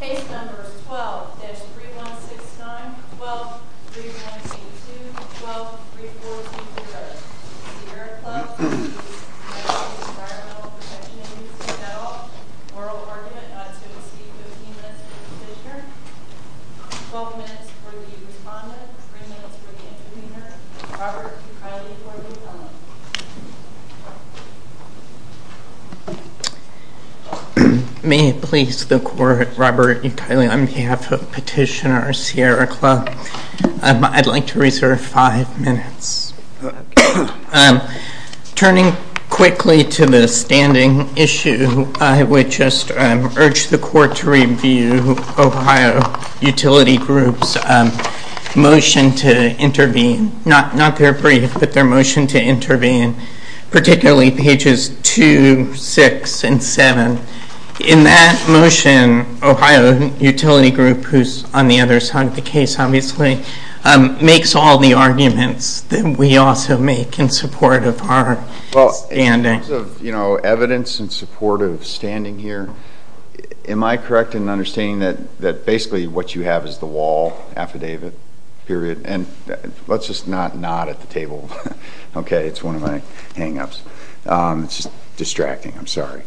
Case number 12-3169-12-3162-12-3143-0 Sierra Club v. United States Environmental Protection Agency Moral argument not to exceed 15 minutes for the petitioner 12 minutes for the respondent 3 minutes for the intervener Robert Criley for the defendant May it please the court, Robert E. Criley on behalf of petitioner Sierra Club I'd like to reserve 5 minutes Turning quickly to the standing issue I would just urge the court to review Ohio Utility Group's motion to intervene particularly pages 2, 6, and 7 In that motion, Ohio Utility Group, who's on the other side of the case obviously makes all the arguments that we also make in support of our standing In terms of evidence in support of standing here am I correct in understanding that basically what you have is the wall affidavit, period and let's just not nod at the table, okay, it's one of my hang-ups It's just distracting, I'm sorry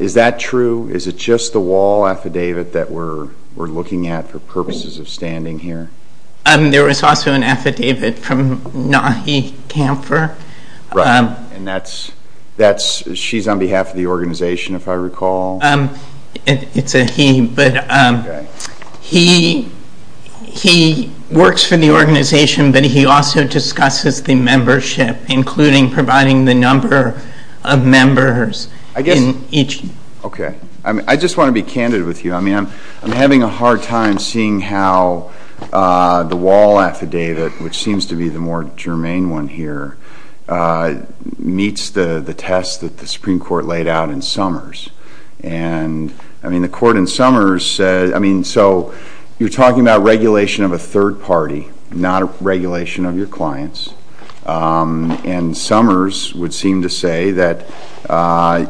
Is that true? Is it just the wall affidavit that we're looking at for purposes of standing here? There was also an affidavit from Nahi Kamfer Right, and that's, she's on behalf of the organization if I recall It's a he, but he works for the organization but he also discusses the membership including providing the number of members I just want to be candid with you I'm having a hard time seeing how the wall affidavit, which seems to be the more germane one here meets the test that the Supreme Court laid out in Summers The court in Summers said, so you're talking about regulation of a third party not regulation of your clients and Summers would seem to say that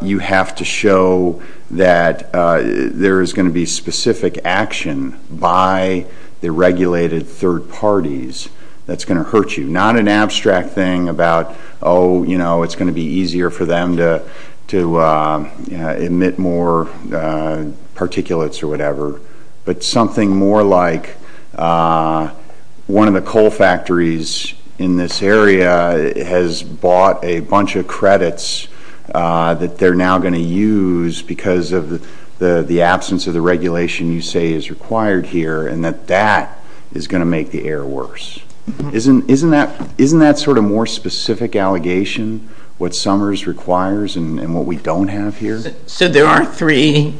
you have to show that there is going to be specific action by the regulated third parties that's going to hurt you not an abstract thing about, oh, you know, it's going to be easier for them to emit more particulates or whatever but something more like one of the coal factories in this area has bought a bunch of credits that they're now going to use because of the absence of the regulation you say is required here and that that is going to make the air worse Isn't that sort of more specific allegation, what Summers requires and what we don't have here? So there are three,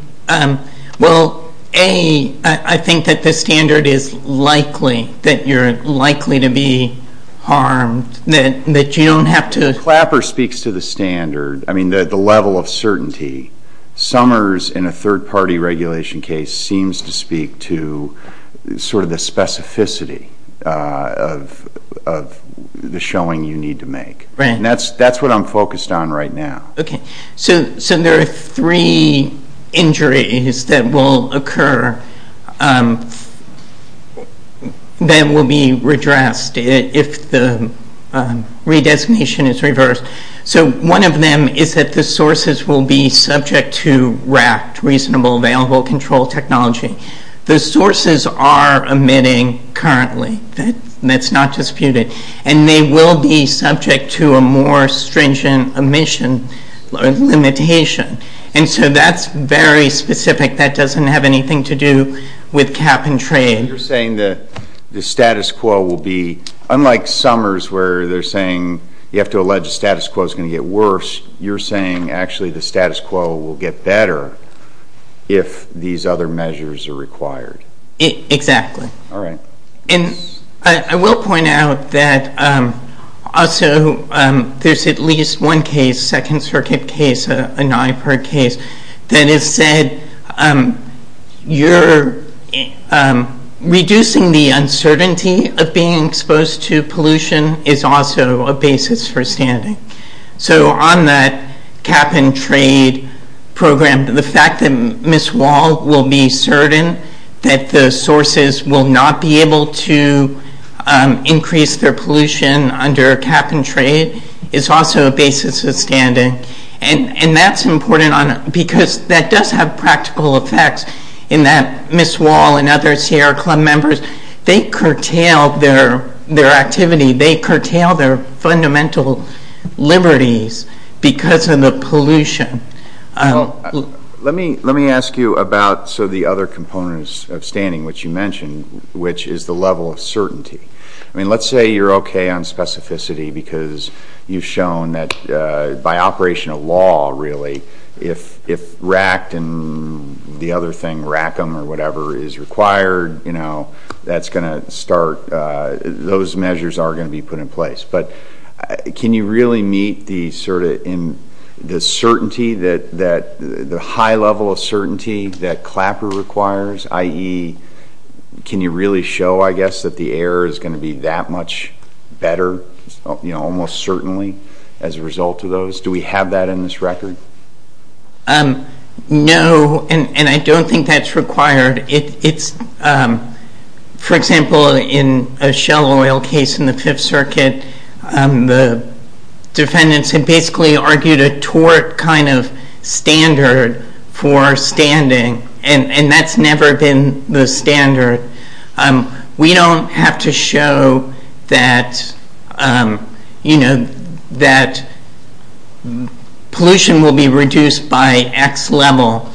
well, A, I think that the standard is likely that you're likely to be harmed that you don't have to Clapper speaks to the standard, I mean the level of certainty Summers in a third party regulation case seems to speak to sort of the specificity of the showing you need to make and that's what I'm focused on right now Okay, so there are three injuries that will occur that will be redressed if the redesignation is reversed so one of them is that the sources will be subject to RACT, Reasonable Available Control Technology the sources are emitting currently, that's not disputed and they will be subject to a more stringent emission limitation and so that's very specific, that doesn't have anything to do with cap and trade You're saying that the status quo will be, unlike Summers where they're saying you have to allege the status quo is going to get worse you're saying actually the status quo will get better if these other measures are required Exactly Alright And I will point out that also there's at least one case, second circuit case, a NYPIRG case that has said you're reducing the uncertainty of being exposed to pollution is also a basis for standing So on that cap and trade program, the fact that Ms. Wall will be certain that the sources will not be able to increase their pollution under cap and trade is also a basis of standing and that's important because that does have practical effects in that Ms. Wall and other Sierra Club members, they curtail their activity they curtail their fundamental liberties because of the pollution Let me ask you about the other components of standing which you mentioned which is the level of certainty Let's say you're okay on specificity because you've shown that by operation of law really if RACT and the other thing, RACM or whatever is required those measures are going to be put in place but can you really meet the high level of certainty that CLAPR requires i.e. can you really show I guess that the air is going to be that much better almost certainly as a result of those Do we have that in this record? No, and I don't think that's required For example, in a Shell Oil case in the 5th Circuit the defendants had basically argued a tort kind of standard for standing We don't have to show that pollution will be reduced by X level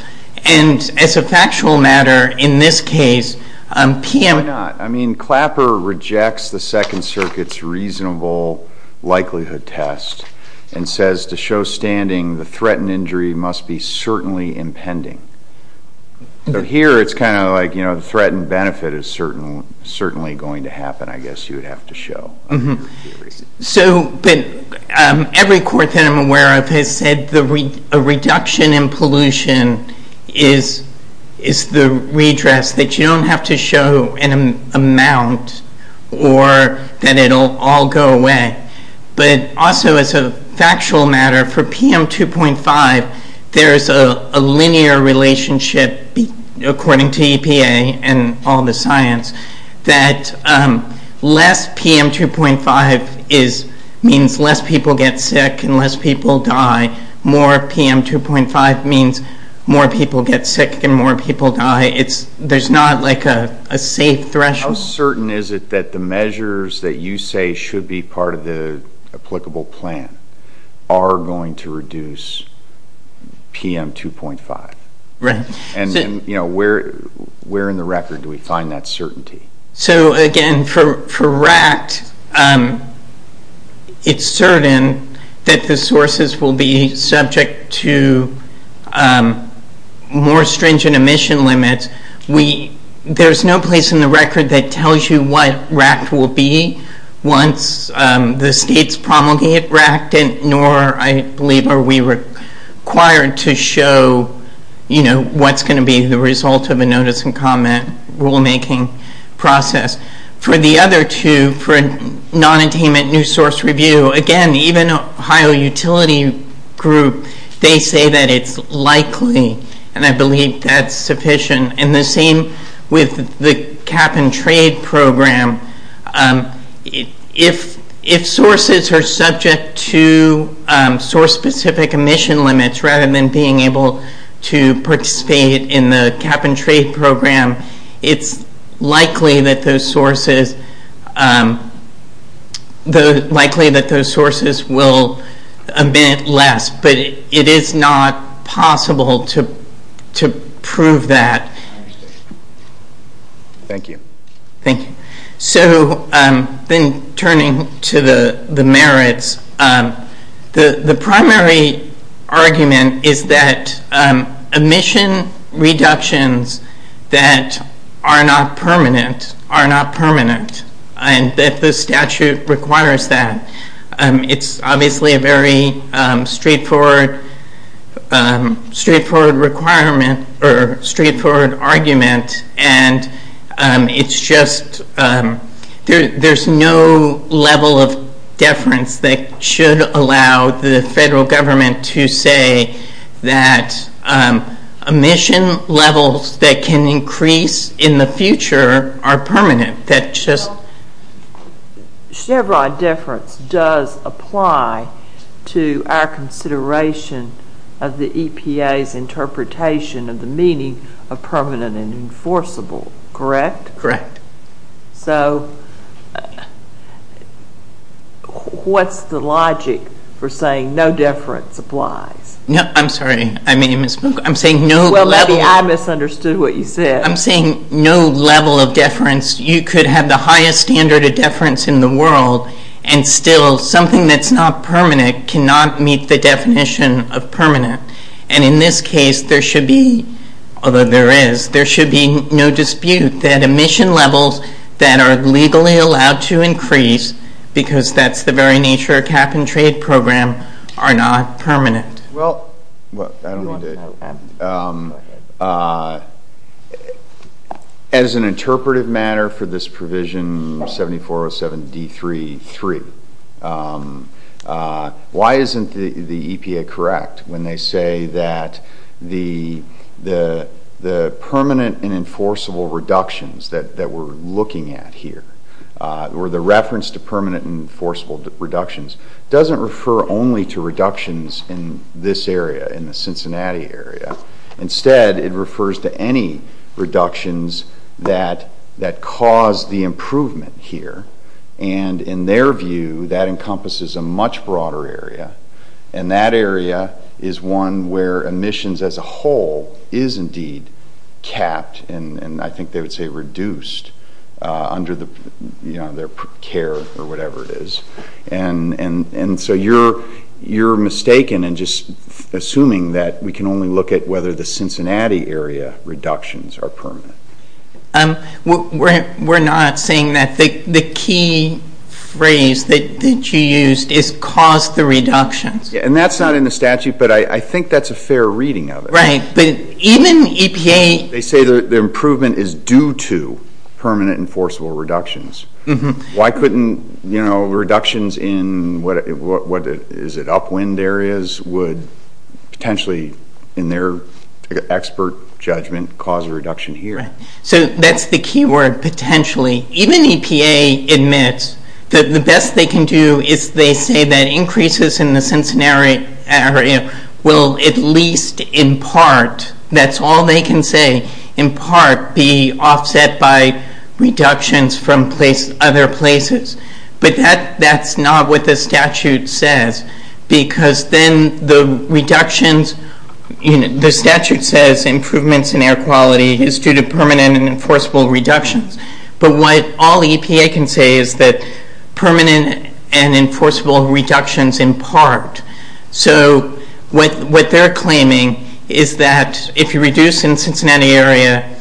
and as a factual matter in this case Why not? I mean CLAPR rejects the 2nd Circuit's reasonable likelihood test and says to show standing the threatened injury must be certainly impending Here it's kind of like the threatened benefit is certainly going to happen I guess you would have to show Every court that I'm aware of has said a reduction in pollution is the redress that you don't have to show an amount or that it'll all go away But also as a factual matter for PM2.5 there's a linear relationship according to EPA and all the science that less PM2.5 means less people get sick and less people die More PM2.5 means more people get sick and more people die There's not like a safe threshold How certain is it that the measures that you say should be part of the applicable plan are going to reduce PM2.5? Where in the record do we find that certainty? Again, for RACT it's certain that the sources will be subject to more stringent emission limits There's no place in the record that tells you what RACT will be once the states promulgate RACT nor I believe are we required to show what's going to be the result of a notice and comment rulemaking process For the other two, for non-attainment new source review again, even Ohio Utility Group, they say that it's likely and I believe that's sufficient and the same with the cap-and-trade program If sources are subject to source-specific emission limits rather than being able to participate in the cap-and-trade program it's likely that those sources will emit less but it is not possible to prove that Thank you So then turning to the merits The primary argument is that emission reductions that are not permanent are not permanent and that the statute requires that It's obviously a very straightforward argument and it's just, there's no level of deference that should allow the federal government to say that emission levels that can increase in the future are permanent Chevron deference does apply to our consideration of the EPA's interpretation of the meaning of permanent and enforceable, correct? Correct So what's the logic for saying no deference applies? I'm sorry, I'm saying no level Well maybe I misunderstood what you said I'm saying no level of deference You could have the highest standard of deference in the world and still something that's not permanent cannot meet the definition of permanent and in this case there should be although there is, there should be no dispute that emission levels that are legally allowed to increase because that's the very nature of cap-and-trade program are not permanent Well, as an interpretive matter for this provision 7407D3.3 why isn't the EPA correct when they say that the permanent and enforceable reductions that we're looking at here or the reference to permanent and enforceable reductions doesn't refer only to reductions in this area, in the Cincinnati area instead it refers to any reductions that cause the improvement here and in their view that encompasses a much broader area and that area is one where emissions as a whole is indeed capped and I think they would say reduced under their care or whatever it is and so you're mistaken in just assuming that we can only look at whether the Cincinnati area reductions are permanent We're not saying that the key phrase that you used is cause the reductions And that's not in the statute but I think that's a fair reading of it Right, but even EPA They say the improvement is due to permanent and enforceable reductions Why couldn't reductions in upwind areas would potentially in their expert judgment cause a reduction here? So that's the key word, potentially Even EPA admits that the best they can do is they say that increases in the Cincinnati area will at least in part, that's all they can say in part be offset by reductions from other places But that's not what the statute says Because then the reductions The statute says improvements in air quality is due to permanent and enforceable reductions But what all EPA can say is that permanent and enforceable reductions in part So what they're claiming is that if you reduce in Cincinnati area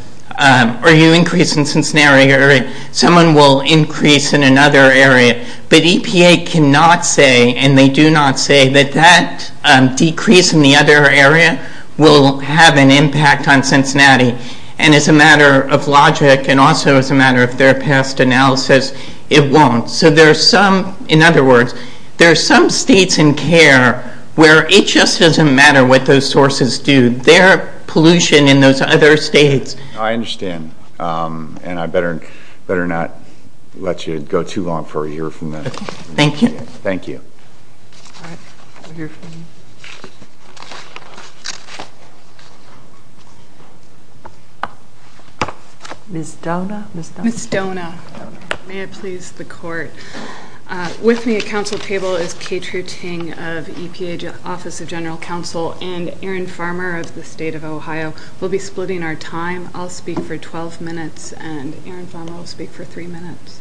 or you increase in Cincinnati area someone will increase in another area But EPA cannot say and they do not say that that decrease in the other area will have an impact on Cincinnati And as a matter of logic and also as a matter of their past analysis it won't So there's some, in other words there's some states in care where it just doesn't matter what those sources do Their pollution in those other states I understand And I better not let you go too long for a year from now Thank you Thank you Ms. Dona Ms. Dona May it please the court With me at council table is Kay True Ting of EPA Office of General Counsel and Aaron Farmer of the state of Ohio We'll be splitting our time I'll speak for 12 minutes and Aaron Farmer will speak for 3 minutes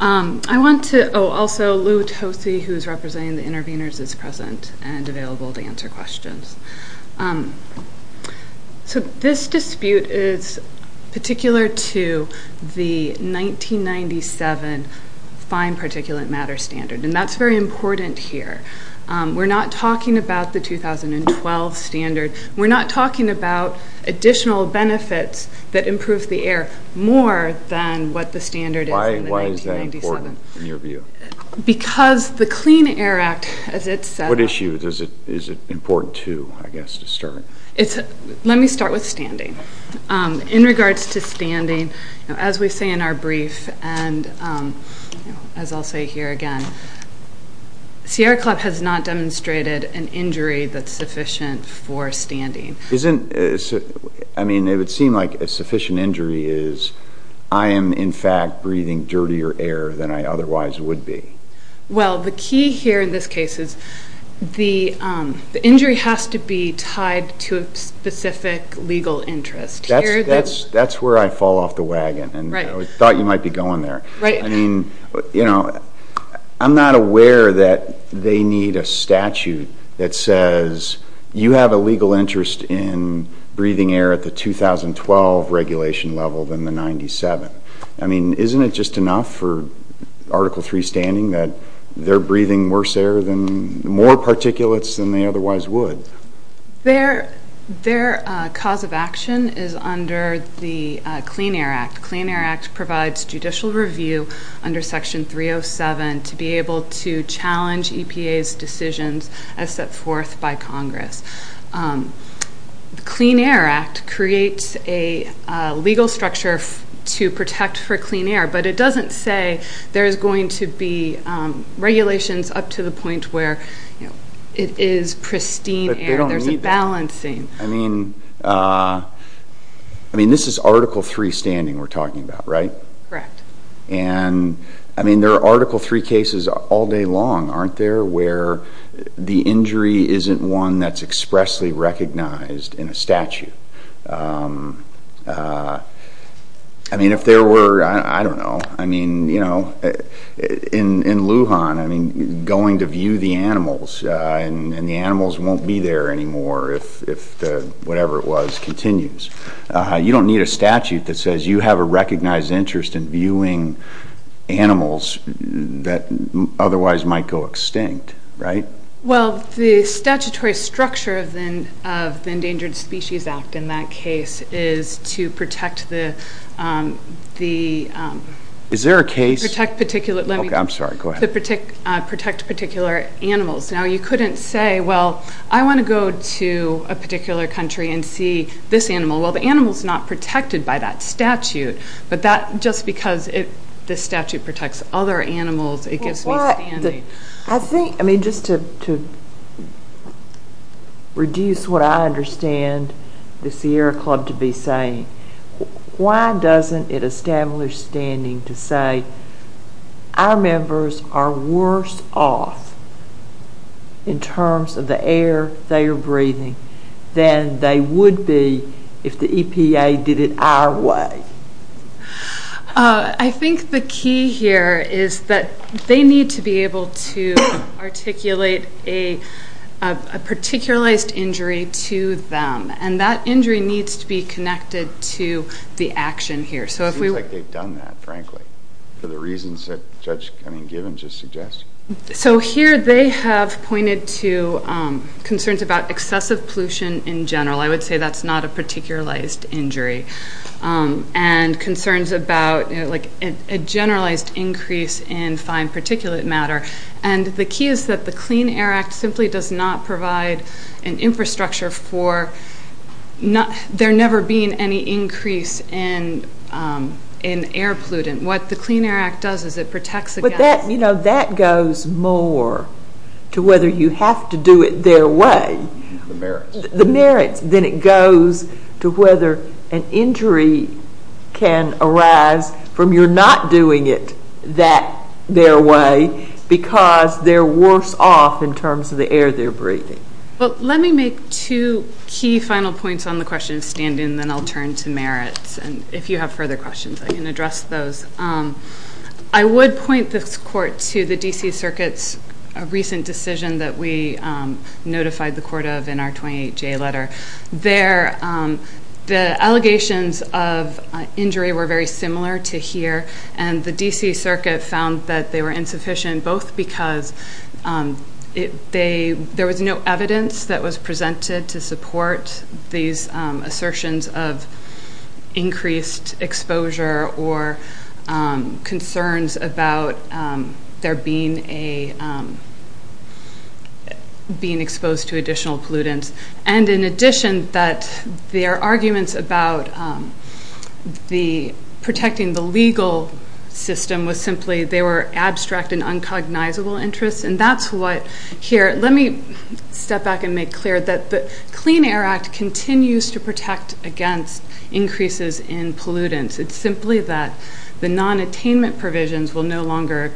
I want to, oh also Lou Tosi who's representing the interveners is present and available to answer questions So this dispute is particular to the 1997 fine particulate matter standard and that's very important here We're not talking about the 2012 standard We're not talking about additional benefits that improve the air more than what the standard is in 1997 Why is that important in your view? Because the Clean Air Act, as it says What issue is it important to, I guess, to start? Let me start with standing In regards to standing as we say in our brief and as I'll say here again Sierra Club has not demonstrated an injury that's sufficient for standing Isn't, I mean it would seem like a sufficient injury is I am in fact breathing dirtier air than I otherwise would be Well the key here in this case is the injury has to be tied to a specific legal interest That's where I fall off the wagon and I thought you might be going there I mean, you know I'm not aware that they need a statute that says you have a legal interest in breathing air at the 2012 regulation level than the 97 I mean, isn't it just enough for Article 3 standing that they're breathing worse air than more particulates than they otherwise would Their cause of action is under the Clean Air Act The Clean Air Act provides judicial review under Section 307 to be able to challenge EPA's decisions as set forth by Congress The Clean Air Act creates a legal structure to protect for clean air but it doesn't say there's going to be regulations up to the point where it is pristine air There's a balancing I mean I mean, this is Article 3 standing we're talking about, right? Correct I mean, there are Article 3 cases all day long, aren't there? Where the injury isn't one that's expressly recognized in a statute I mean, if there were I don't know In Lujan going to view the animals and the animals won't be there anymore if whatever it was continues you don't need a statute that says you have a recognized interest in viewing animals that otherwise might go extinct, right? Well, the statutory structure of the Endangered Species Act in that case is to protect the the Is there a case I'm sorry, go ahead protect particular animals Now, you couldn't say, well I want to go to a particular country and see this animal Well, the animal's not protected by that statute But that, just because this statute protects other animals it gives me standing I think, I mean, just to reduce what I understand the Sierra Club to be saying why doesn't it establish standing to say our members are worse off in terms of the air they are breathing than they would be if the EPA did it our way I think the key here is that they need to be able to articulate a particularized injury to them and that injury needs to be connected to the action here It seems like they've done that, frankly for the reasons that Judge Cunningham just suggested So here they have pointed to concerns about excessive pollution in general, I would say that's not a particularized injury and concerns about a generalized increase in fine particulate matter and the key is that the Clean Air Act simply does not provide an infrastructure for there never being any increase in air pollutant What the Clean Air Act does is it protects But that goes more to whether you have to do it their way the merits, then it goes to whether an injury can arise from your not doing it that their way because they're worse off in terms of the air they're breathing Let me make two key final points on the question of standing and then I'll turn to merits and if you have further questions I can address those I would point this court to the D.C. Circuit's recent decision that we notified the court of in our 28J letter There the allegations of injury were very similar to here and the D.C. Circuit found that they were insufficient both because there was no evidence that was presented to support these increased exposure or concerns about there being a being exposed to additional pollutants and in addition that their arguments about the protecting the legal system was simply they were abstract and uncognizable interests and that's what here let me step back and make clear that the Clean Air Act continues to protect against increases in pollutants it's simply that the non-attainment provisions will no longer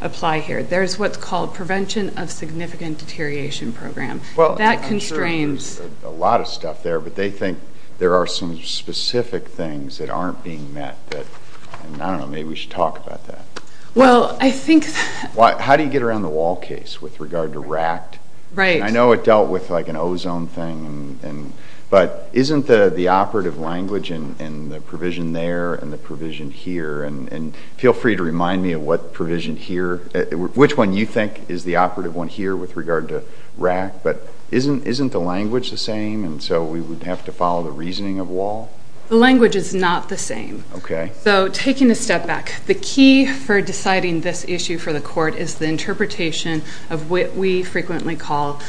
apply here. There's what's called Prevention of Significant Deterioration Program That constrains There's a lot of stuff there but they think there are some specific things that aren't being met I don't know, maybe we should talk about that Well, I think How do you get around the wall case with regard to RACT? Right I know it dealt with like an ozone thing but isn't the operative language and the provision there and the provision here and feel free to remind me of what provision here, which one you think is the operative one here with regard to RACT but isn't the language the same and so we would have to follow the reasoning of wall The language is not the same So taking a step back the key for deciding this issue for the court is the interpretation of what we frequently call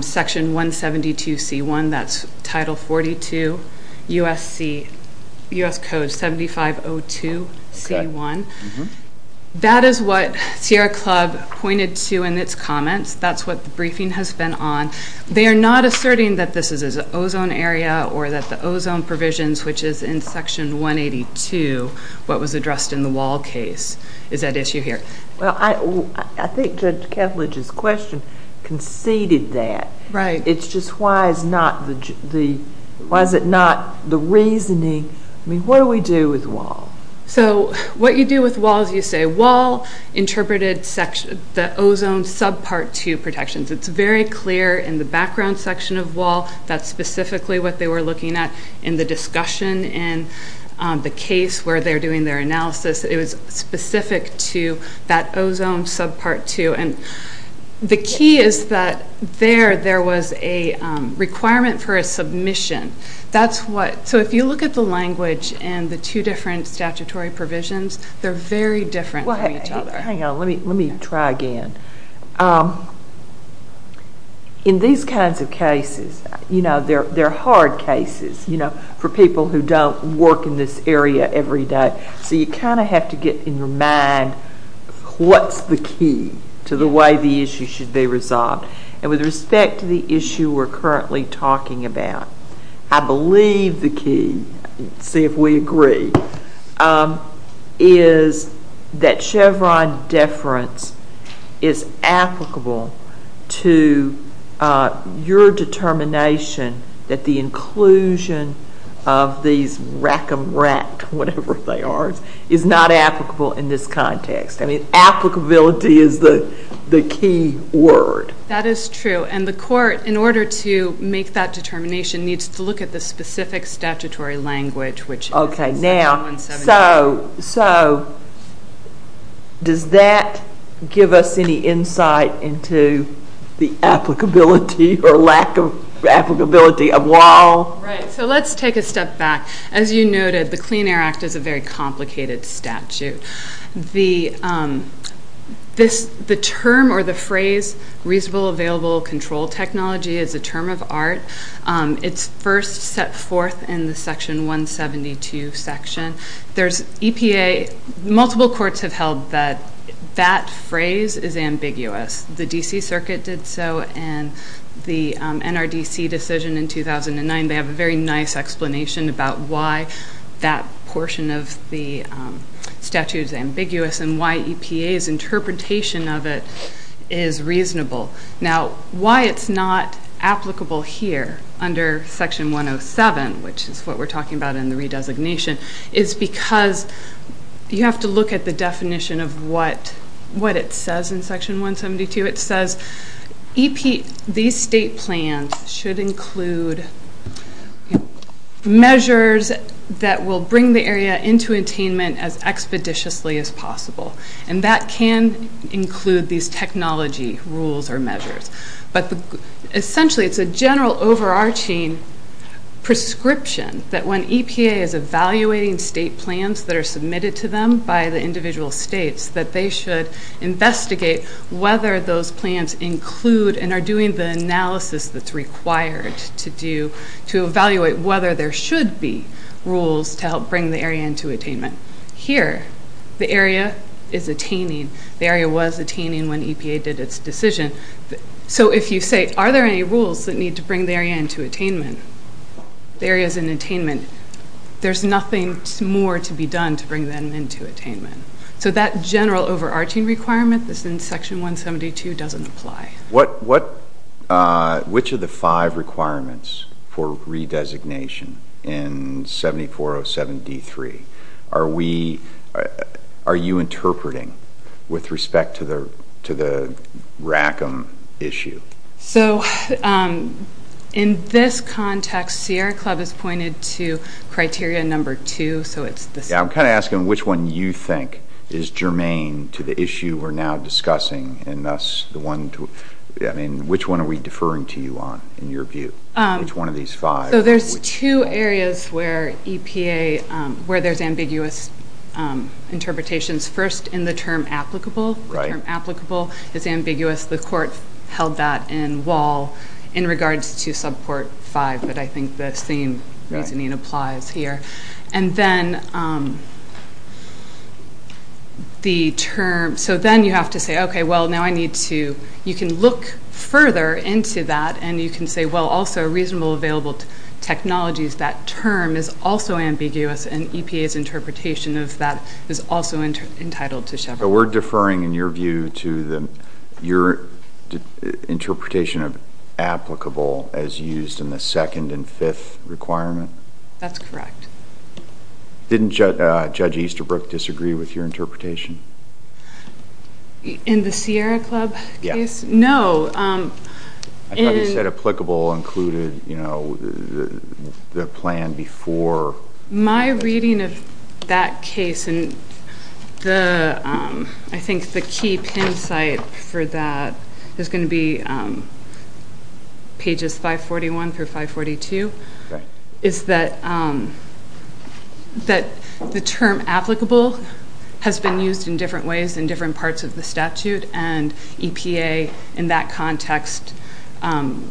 Section 172 C1, that's Title 42 U.S. C U.S. Code 7502 C1 That is what Sierra Club pointed to in its comments That's what the briefing has been on They are not asserting that this is an ozone area or that the ozone provisions which is in Section 182 what was addressed in the wall case is at issue here Well I think Judge Ketledge's question conceded that. It's just why is it not the reasoning I mean what do we do with wall So what you do with wall is you say wall interpreted the ozone subpart 2 protections. It's very clear in the background section of wall that's specifically what they were looking at in the discussion in the case where they are doing their analysis it was specific to that ozone subpart 2 and the key is that there, there was a requirement for a submission that's what, so if you look at the language and the two different statutory provisions, they are very different from each other. Hang on let me try again In these kinds of cases, you know they are hard cases, you know for people who don't work in this area every day, so you kind of have to get in your mind what's the key to the way the issue should be resolved and with respect to the issue we are currently talking about, I believe the key, see if we agree is that Chevron deference is applicable to your determination that the inclusion of these rack-a-rat whatever they are, is not applicable in this context. I mean applicability is the key word. That is true and the court in order to make that determination needs to look at the specific statutory language which Okay now, so so does that give us any insight into the applicability or lack of applicability of law? Right, so let's take a step back as you noted, the Clean Air Act is a very complicated statute the the term or the phrase reasonable available control technology is a term of art it's first set forth in the section 172 section. There's EPA multiple courts have held that that phrase is ambiguous. The DC circuit did so and the NRDC decision in 2009 they have a very nice explanation about why that portion of the statute is ambiguous and why EPA's interpretation of it is reasonable now why it's not applicable here under section 107 which is what we're talking about in the redesignation is because you have to look at the definition of what what it says in section 172 it says EPA, these state plans should include measures that will bring the area into attainment as expeditiously as possible and that can include these technology rules or measures but essentially it's a general overarching prescription that when EPA is evaluating state plans that are submitted to them by the individual states that they should investigate whether those plans include and are doing the analysis that's required to do to evaluate whether there should be rules to help bring the area into attainment. Here the area is attaining the area was attaining when EPA did its decision. So if you say are there any rules that need to bring the area into attainment the area is in attainment, there's nothing more to be done to bring them into attainment. So that general overarching requirement that's in section 172 doesn't apply. What, which of the five requirements for redesignation in 7407 D3 are we, are you interpreting with respect to the RACM issue? So in this context Sierra Club has pointed to criteria number two so it's this. I'm kind of asking which one you think is germane to the issue we're now discussing and thus the one, I mean which one are we deferring to you on in your view? Which one of these five? So there's two areas where EPA, where there's ambiguous interpretations first in the term applicable the term applicable is ambiguous the court held that in wall in regards to subcourt five but I think the same reasoning applies here. And then um the term so then you have to say okay well now I need to, you can look further into that and you can say well also reasonable available technologies that term is also ambiguous and EPA's interpretation of that is also entitled to Chevron. So we're deferring in your view to the, your interpretation of applicable as used in the second and fifth requirement? That's correct. Didn't Judge Easterbrook disagree with your interpretation? In the Sierra Club case? No. I thought you said applicable included you know the plan before My reading of that case and the, I think the key pin site for that is going to be pages 541 through 542 is that um that the term applicable has been used in different ways in different parts of the statute and EPA in that context um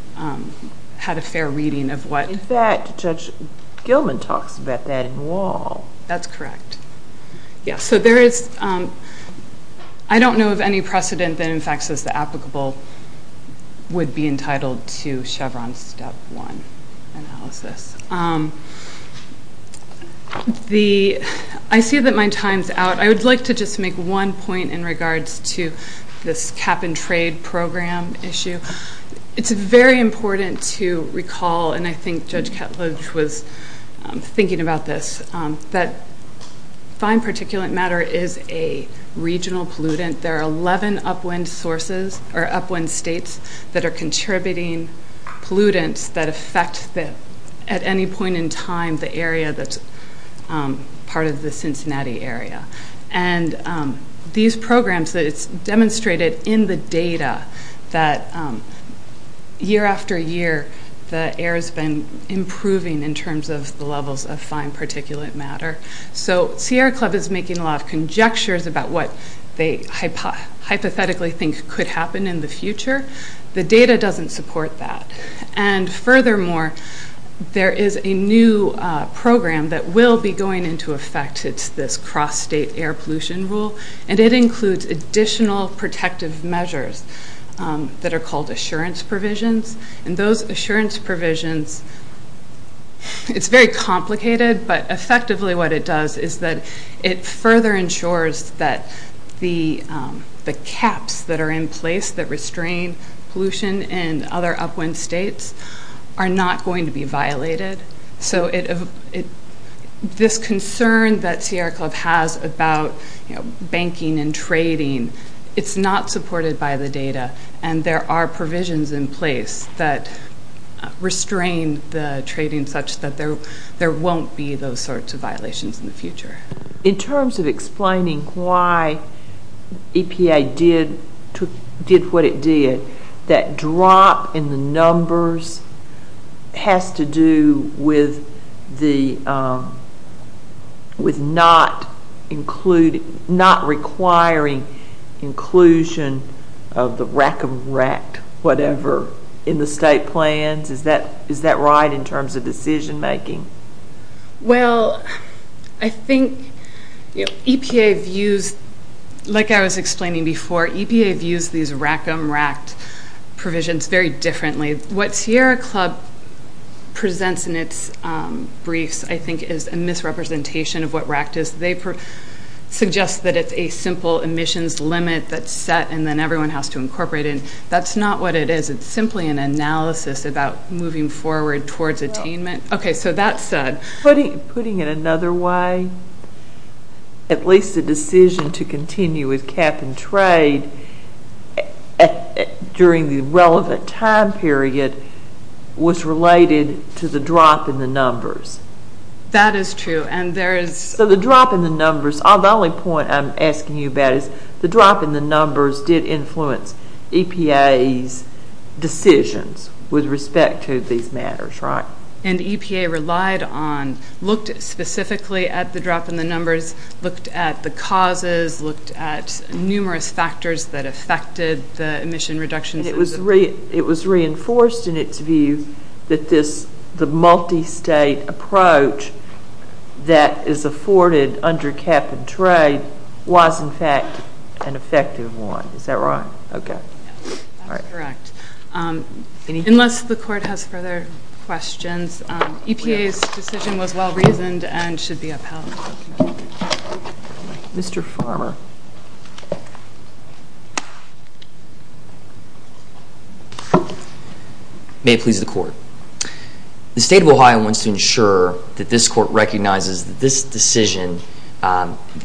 had a fair reading of what In fact Judge Gilman talks about that in wall. That's correct. Yeah so there is um I don't know of any precedent that in fact says the applicable would be entitled to Chevron's step one analysis. Um The I see that my time's out. I would like to just make one point in regards to this cap and trade program issue. It's very important to recall and I think Judge Ketledge was thinking about this. That fine particulate matter is a regional pollutant. There are 11 upwind sources or contributing pollutants that affect at any point in time the area that's part of the Cincinnati area. And these programs that it's demonstrated in the data that year after year the air has been improving in terms of the levels of fine particulate matter. So Sierra Club is making a lot of conjectures about what they hypothetically think could happen in the future. The data doesn't support that. And furthermore there is a new program that will be going into effect. It's this cross state air pollution rule. And it includes additional protective measures that are called assurance provisions. And those assurance provisions it's very complicated but effectively what it does is that it further ensures that the measures that restrain pollution and other upwind states are not going to be violated. So this concern that Sierra Club has about banking and trading, it's not supported by the data. And there are provisions in place that restrain the trading such that there won't be those sorts of violations in the future. In terms of explaining why EPA did what it did, that drop in the numbers has to do with the not requiring inclusion of the whatever in the state plans. Is that right in terms of decision making? Well I think EPA views like I was explaining before EPA views these RACM RACT provisions very differently. What Sierra Club presents in its briefs I think is a misrepresentation of what RACT is. They suggest that it's a simple emissions limit that's set and then everyone has to incorporate it. That's not what it is. It's simply an analysis about moving forward towards attainment. Okay so that said... Putting it another way at least the decision to continue with cap and trade during the relevant time period was related to the drop in the numbers. That is true and there is... So the drop in the numbers the only point I'm asking you about is the drop in the numbers did influence EPA's decisions with respect to these matters right? And EPA relied on looked specifically at the drop in the numbers, looked at the causes, looked at numerous factors that affected the emission reductions. It was reinforced in its view that this, the multi-state approach that is afforded under cap and trade was in fact an effective one. Is that right? Okay. That's correct. Unless the court has further questions EPA's decision was well reasoned and should be upheld. Mr. Farmer. May it please the court. The state of Ohio wants to ensure that this court recognizes that this decision,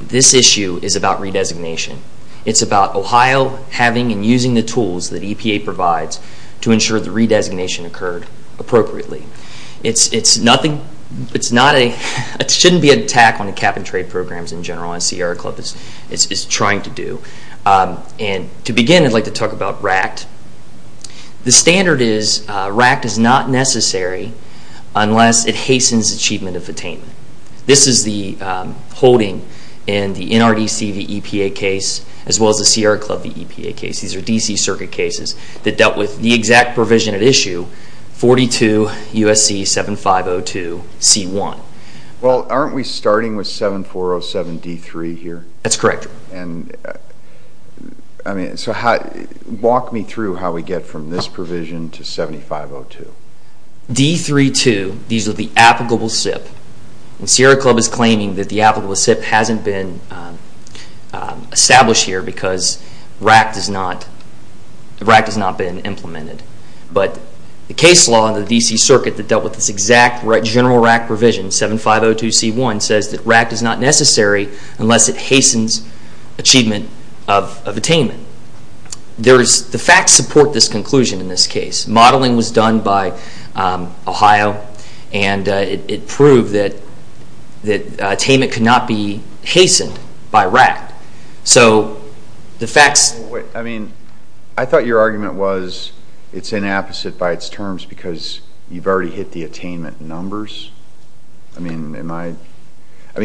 this issue is about redesignation. It's about Ohio having and using the tools that EPA provides to ensure the redesignation occurred appropriately. It's nothing, it's not a, it shouldn't be an attack on cap and trade programs in general as Sierra Club is trying to do. And to begin I'd like to talk about RACT. The standard is RACT is not necessary unless it hastens achievement of attainment. This is the holding in the NRDC v. EPA case as well as the Sierra Club v. EPA case. These are DC circuit cases that dealt with the exact provision at issue 42 U.S.C. 7502 C.1. Well aren't we starting with 7407 D.3 here? That's correct. I mean, so walk me through how we get from this provision to 7502. D.3.2, these are the applicable SIP. And Sierra Club is claiming that the applicable SIP hasn't been established here because RACT has not been implemented. But the case law in the DC circuit that dealt with this exact general RACT provision, 7502 C.1 says that RACT is not necessary unless it hastens achievement of attainment. The facts support this conclusion in this case. Modeling was done by Ohio and it proved that attainment could not be hastened by RACT. I mean, I thought your argument was it's inapposite by its terms because you've already hit the attainment numbers.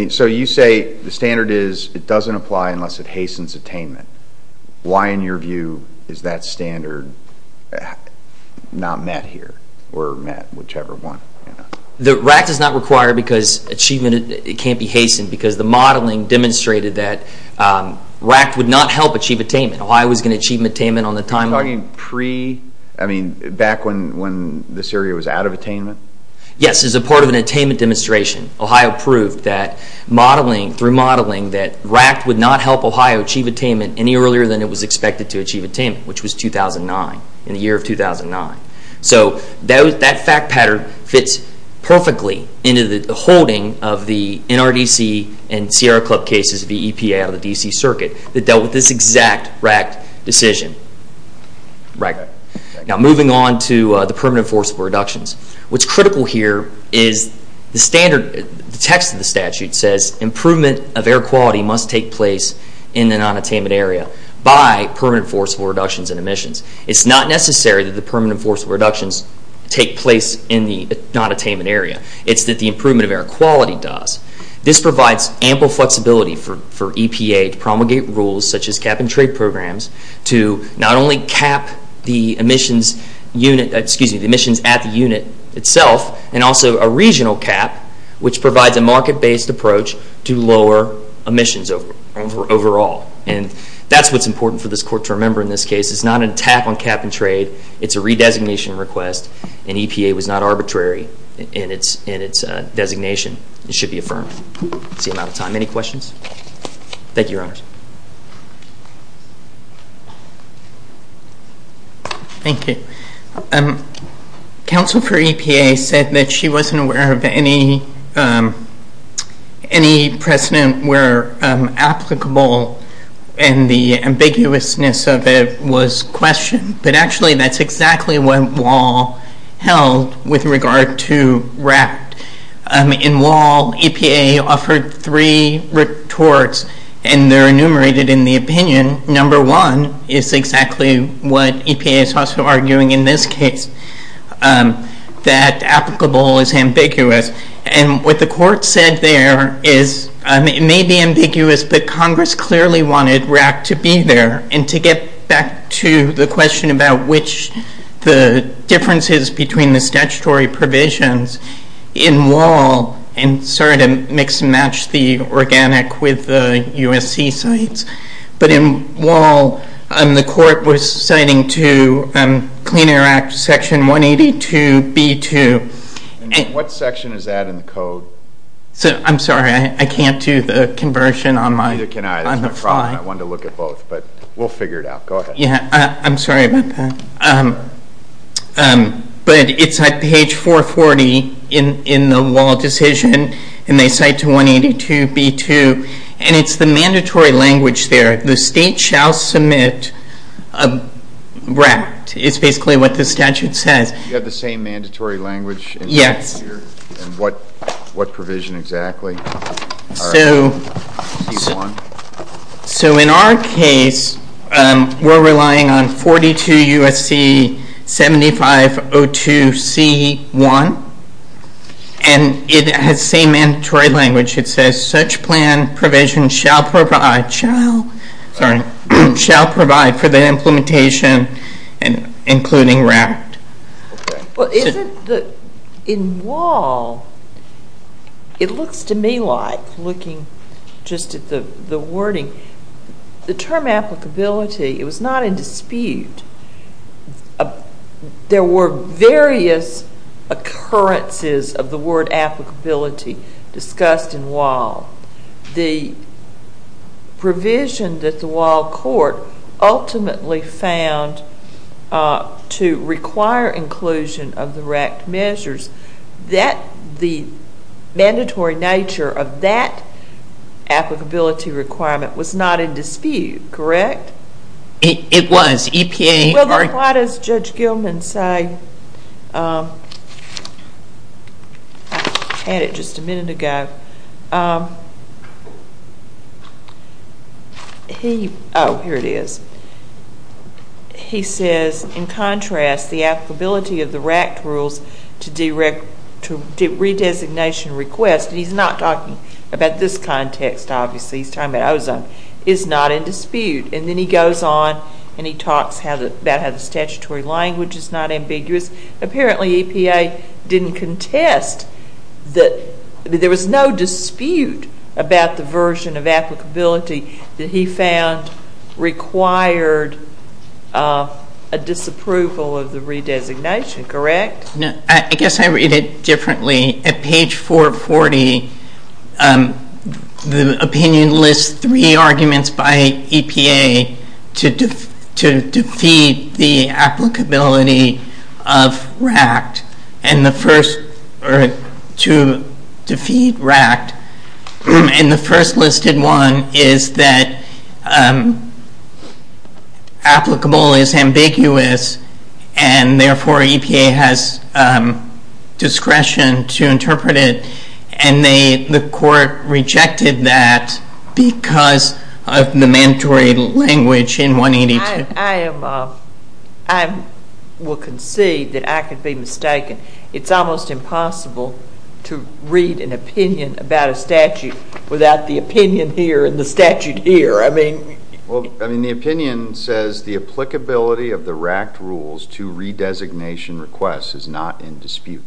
So you say the standard is it doesn't apply unless it hastens attainment. Why in your view is that standard not met here? Or met, whichever one. RACT is not required because achievement can't be hastened because the modeling demonstrated that RACT would not help achieve attainment. Ohio was going to achieve attainment on the timeline. Are you talking pre, I mean, back when this area was out of attainment? Yes, as a part of an attainment demonstration. Ohio proved that modeling, through modeling, that RACT would not help Ohio achieve attainment any earlier than it was expected to achieve attainment, which was 2009, in the year of 2009. So that fact pattern fits perfectly into the holding of the NRDC and Sierra Club cases of the EPA out of the DC circuit that dealt with this exact RACT decision. Now moving on to the permanent forcible reductions. What's critical here is the standard text of the statute says improvement of air quality must take place in the non-attainment area by permanent forcible reductions in emissions. It's not necessary that the permanent forcible reductions take place in the non-attainment area. It's that the improvement of air quality does. This provides ample flexibility for EPA to promulgate rules such as cap-and-trade programs to not only cap the emissions at the unit itself and also a regional cap, which provides a market-based approach to lower emissions overall. And that's what's important for this court to remember in this case. It's not an attack on cap-and-trade. It's a not arbitrary in its designation. It should be affirmed. That's the amount of time. Any questions? Thank you, Your Honors. Thank you. Counsel for EPA said that she wasn't aware of any precedent where applicable and the ambiguousness of it was questioned. But actually that's exactly what Wall held with regard to RAC. In Wall, EPA offered three retorts and they're enumerated in the opinion. Number one is exactly what EPA is also arguing in this case that applicable is ambiguous. And what the court said there is it may be ambiguous, but Congress clearly wanted RAC to be there and to get back to the question about which the differences between the statutory provisions in Wall, and sorry to mix and match the organic with the USC sites, but in Wall, the court was citing to Clean Air Act section 182b2. What section is that in the code? I'm sorry, I can't do the conversion on the front. I wanted to look at both, but we'll figure it out. Go ahead. I'm sorry about that. But it's at page 440 in the Wall decision and they cite to 182b2 and it's the mandatory language there the state shall submit RAC. It's basically what the statute says. You have the same mandatory language? Yes. And what provision exactly? So in our case, we're relying on 42 USC 7502 C1 and it has the same mandatory language. It says such plan provision shall provide shall provide for the implementation including RAC. Well, is it that in Wall it looks to me like looking just at the wording, the term applicability, it was not in dispute. There were various occurrences of the word applicability discussed in Wall. The provision that the Wall court ultimately found to require inclusion of the RAC measures that the RAC applicability requirement was not in dispute. Correct? It was. Why does Judge Gilman say I had it just a minute ago Oh, here it is. He says in contrast the applicability of the RAC rules to redesignation request. He's not talking about this context obviously. He's talking about ozone. It's not in dispute. And then he goes on and he talks about how the statutory language is not ambiguous. Apparently EPA didn't contest that there was no dispute about the version of applicability that he found required a disapproval of the redesignation. Correct? I guess I read it differently. At page 440 the opinion lists three arguments by EPA to defeat the applicability of RAC and the first to defeat RAC and the first listed one is that applicable is ambiguous and therefore EPA has discretion to interpret it and the court rejected that because of the mandatory language in 182. I will concede that I could be mistaken. It's almost impossible to read an opinion about a statute without the opinion here and the statute here. I mean the opinion says the applicability of the resolution request is not in dispute.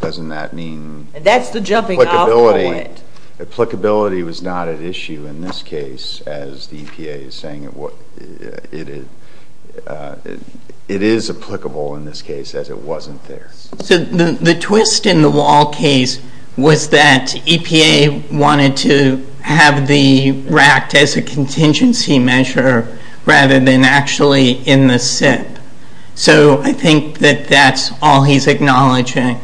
Doesn't that mean applicability was not at issue in this case as the EPA is saying it is applicable in this case as it wasn't there. The twist in the Wall case was that EPA wanted to have the RAC as a contingency measure rather than actually in the SIP. I think that's all he's acknowledging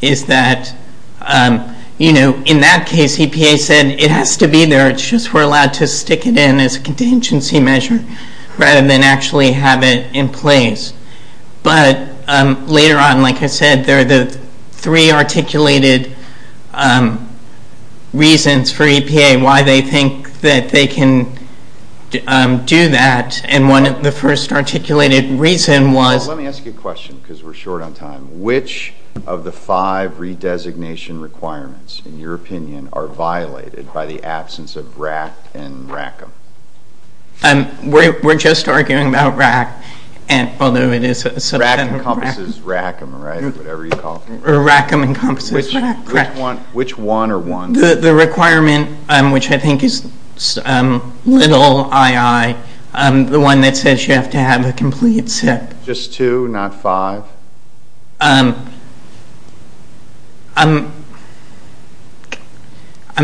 is that in that case EPA said it has to be there it's just we're allowed to stick it in as a contingency measure rather than actually have it in place. But later on like I said there are the three articulated reasons for EPA why they think that they can do that and the first articulated reason was. Let me ask you a question because we're short on time. Which of the five redesignation requirements in your opinion are violated by the absence of RAC and RACM? We're just arguing about RAC. RAC encompasses RACM whatever you call it. Which one or one? The requirement which I think is little i.i. The one that says you have to have a complete SIP. Just two not five? I'm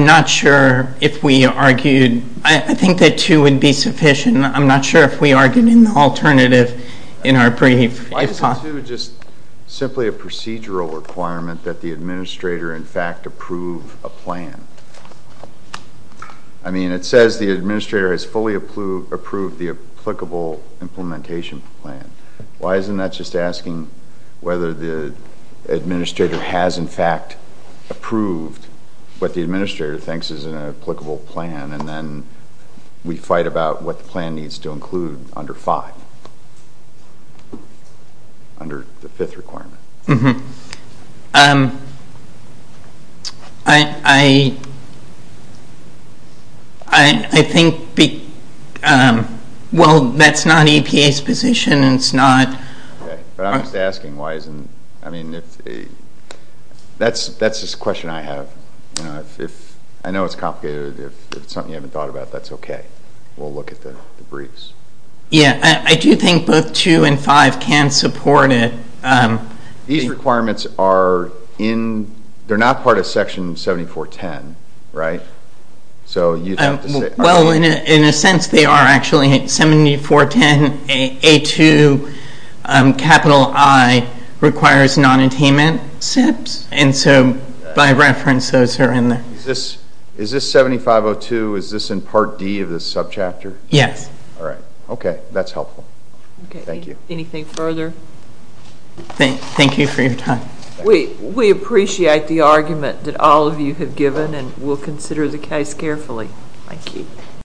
not sure if we argued. I think that two would be sufficient. I'm not sure if we argued in the alternative in our brief. Why isn't two just simply a procedural requirement that the administrator in fact approve a plan? I mean it says the administrator has fully approved the applicable implementation plan. Why isn't that just asking whether the administrator has in fact approved what the administrator thinks is an applicable plan and then we fight about what the plan needs to include under five. Under the fifth requirement. I I I I think well that's not EPA's position. It's not I'm just asking why isn't I mean that's a question I have. I know it's complicated. If it's something you haven't thought about that's okay. We'll look at the briefs. Yeah I do think both two and five can support it. These requirements are in they're not part of section 7410 right? So you have to say. Well in a sense they are actually 7410 A2 capital I requires non-attainment SIPs and so by reference those are in there. Is this 7502 is this in part D of this subchapter? Yes. Okay that's helpful. Thank you. Anything further? Thank you for your time. We appreciate the argument that all of you have given and we'll consider the case carefully. Thank you.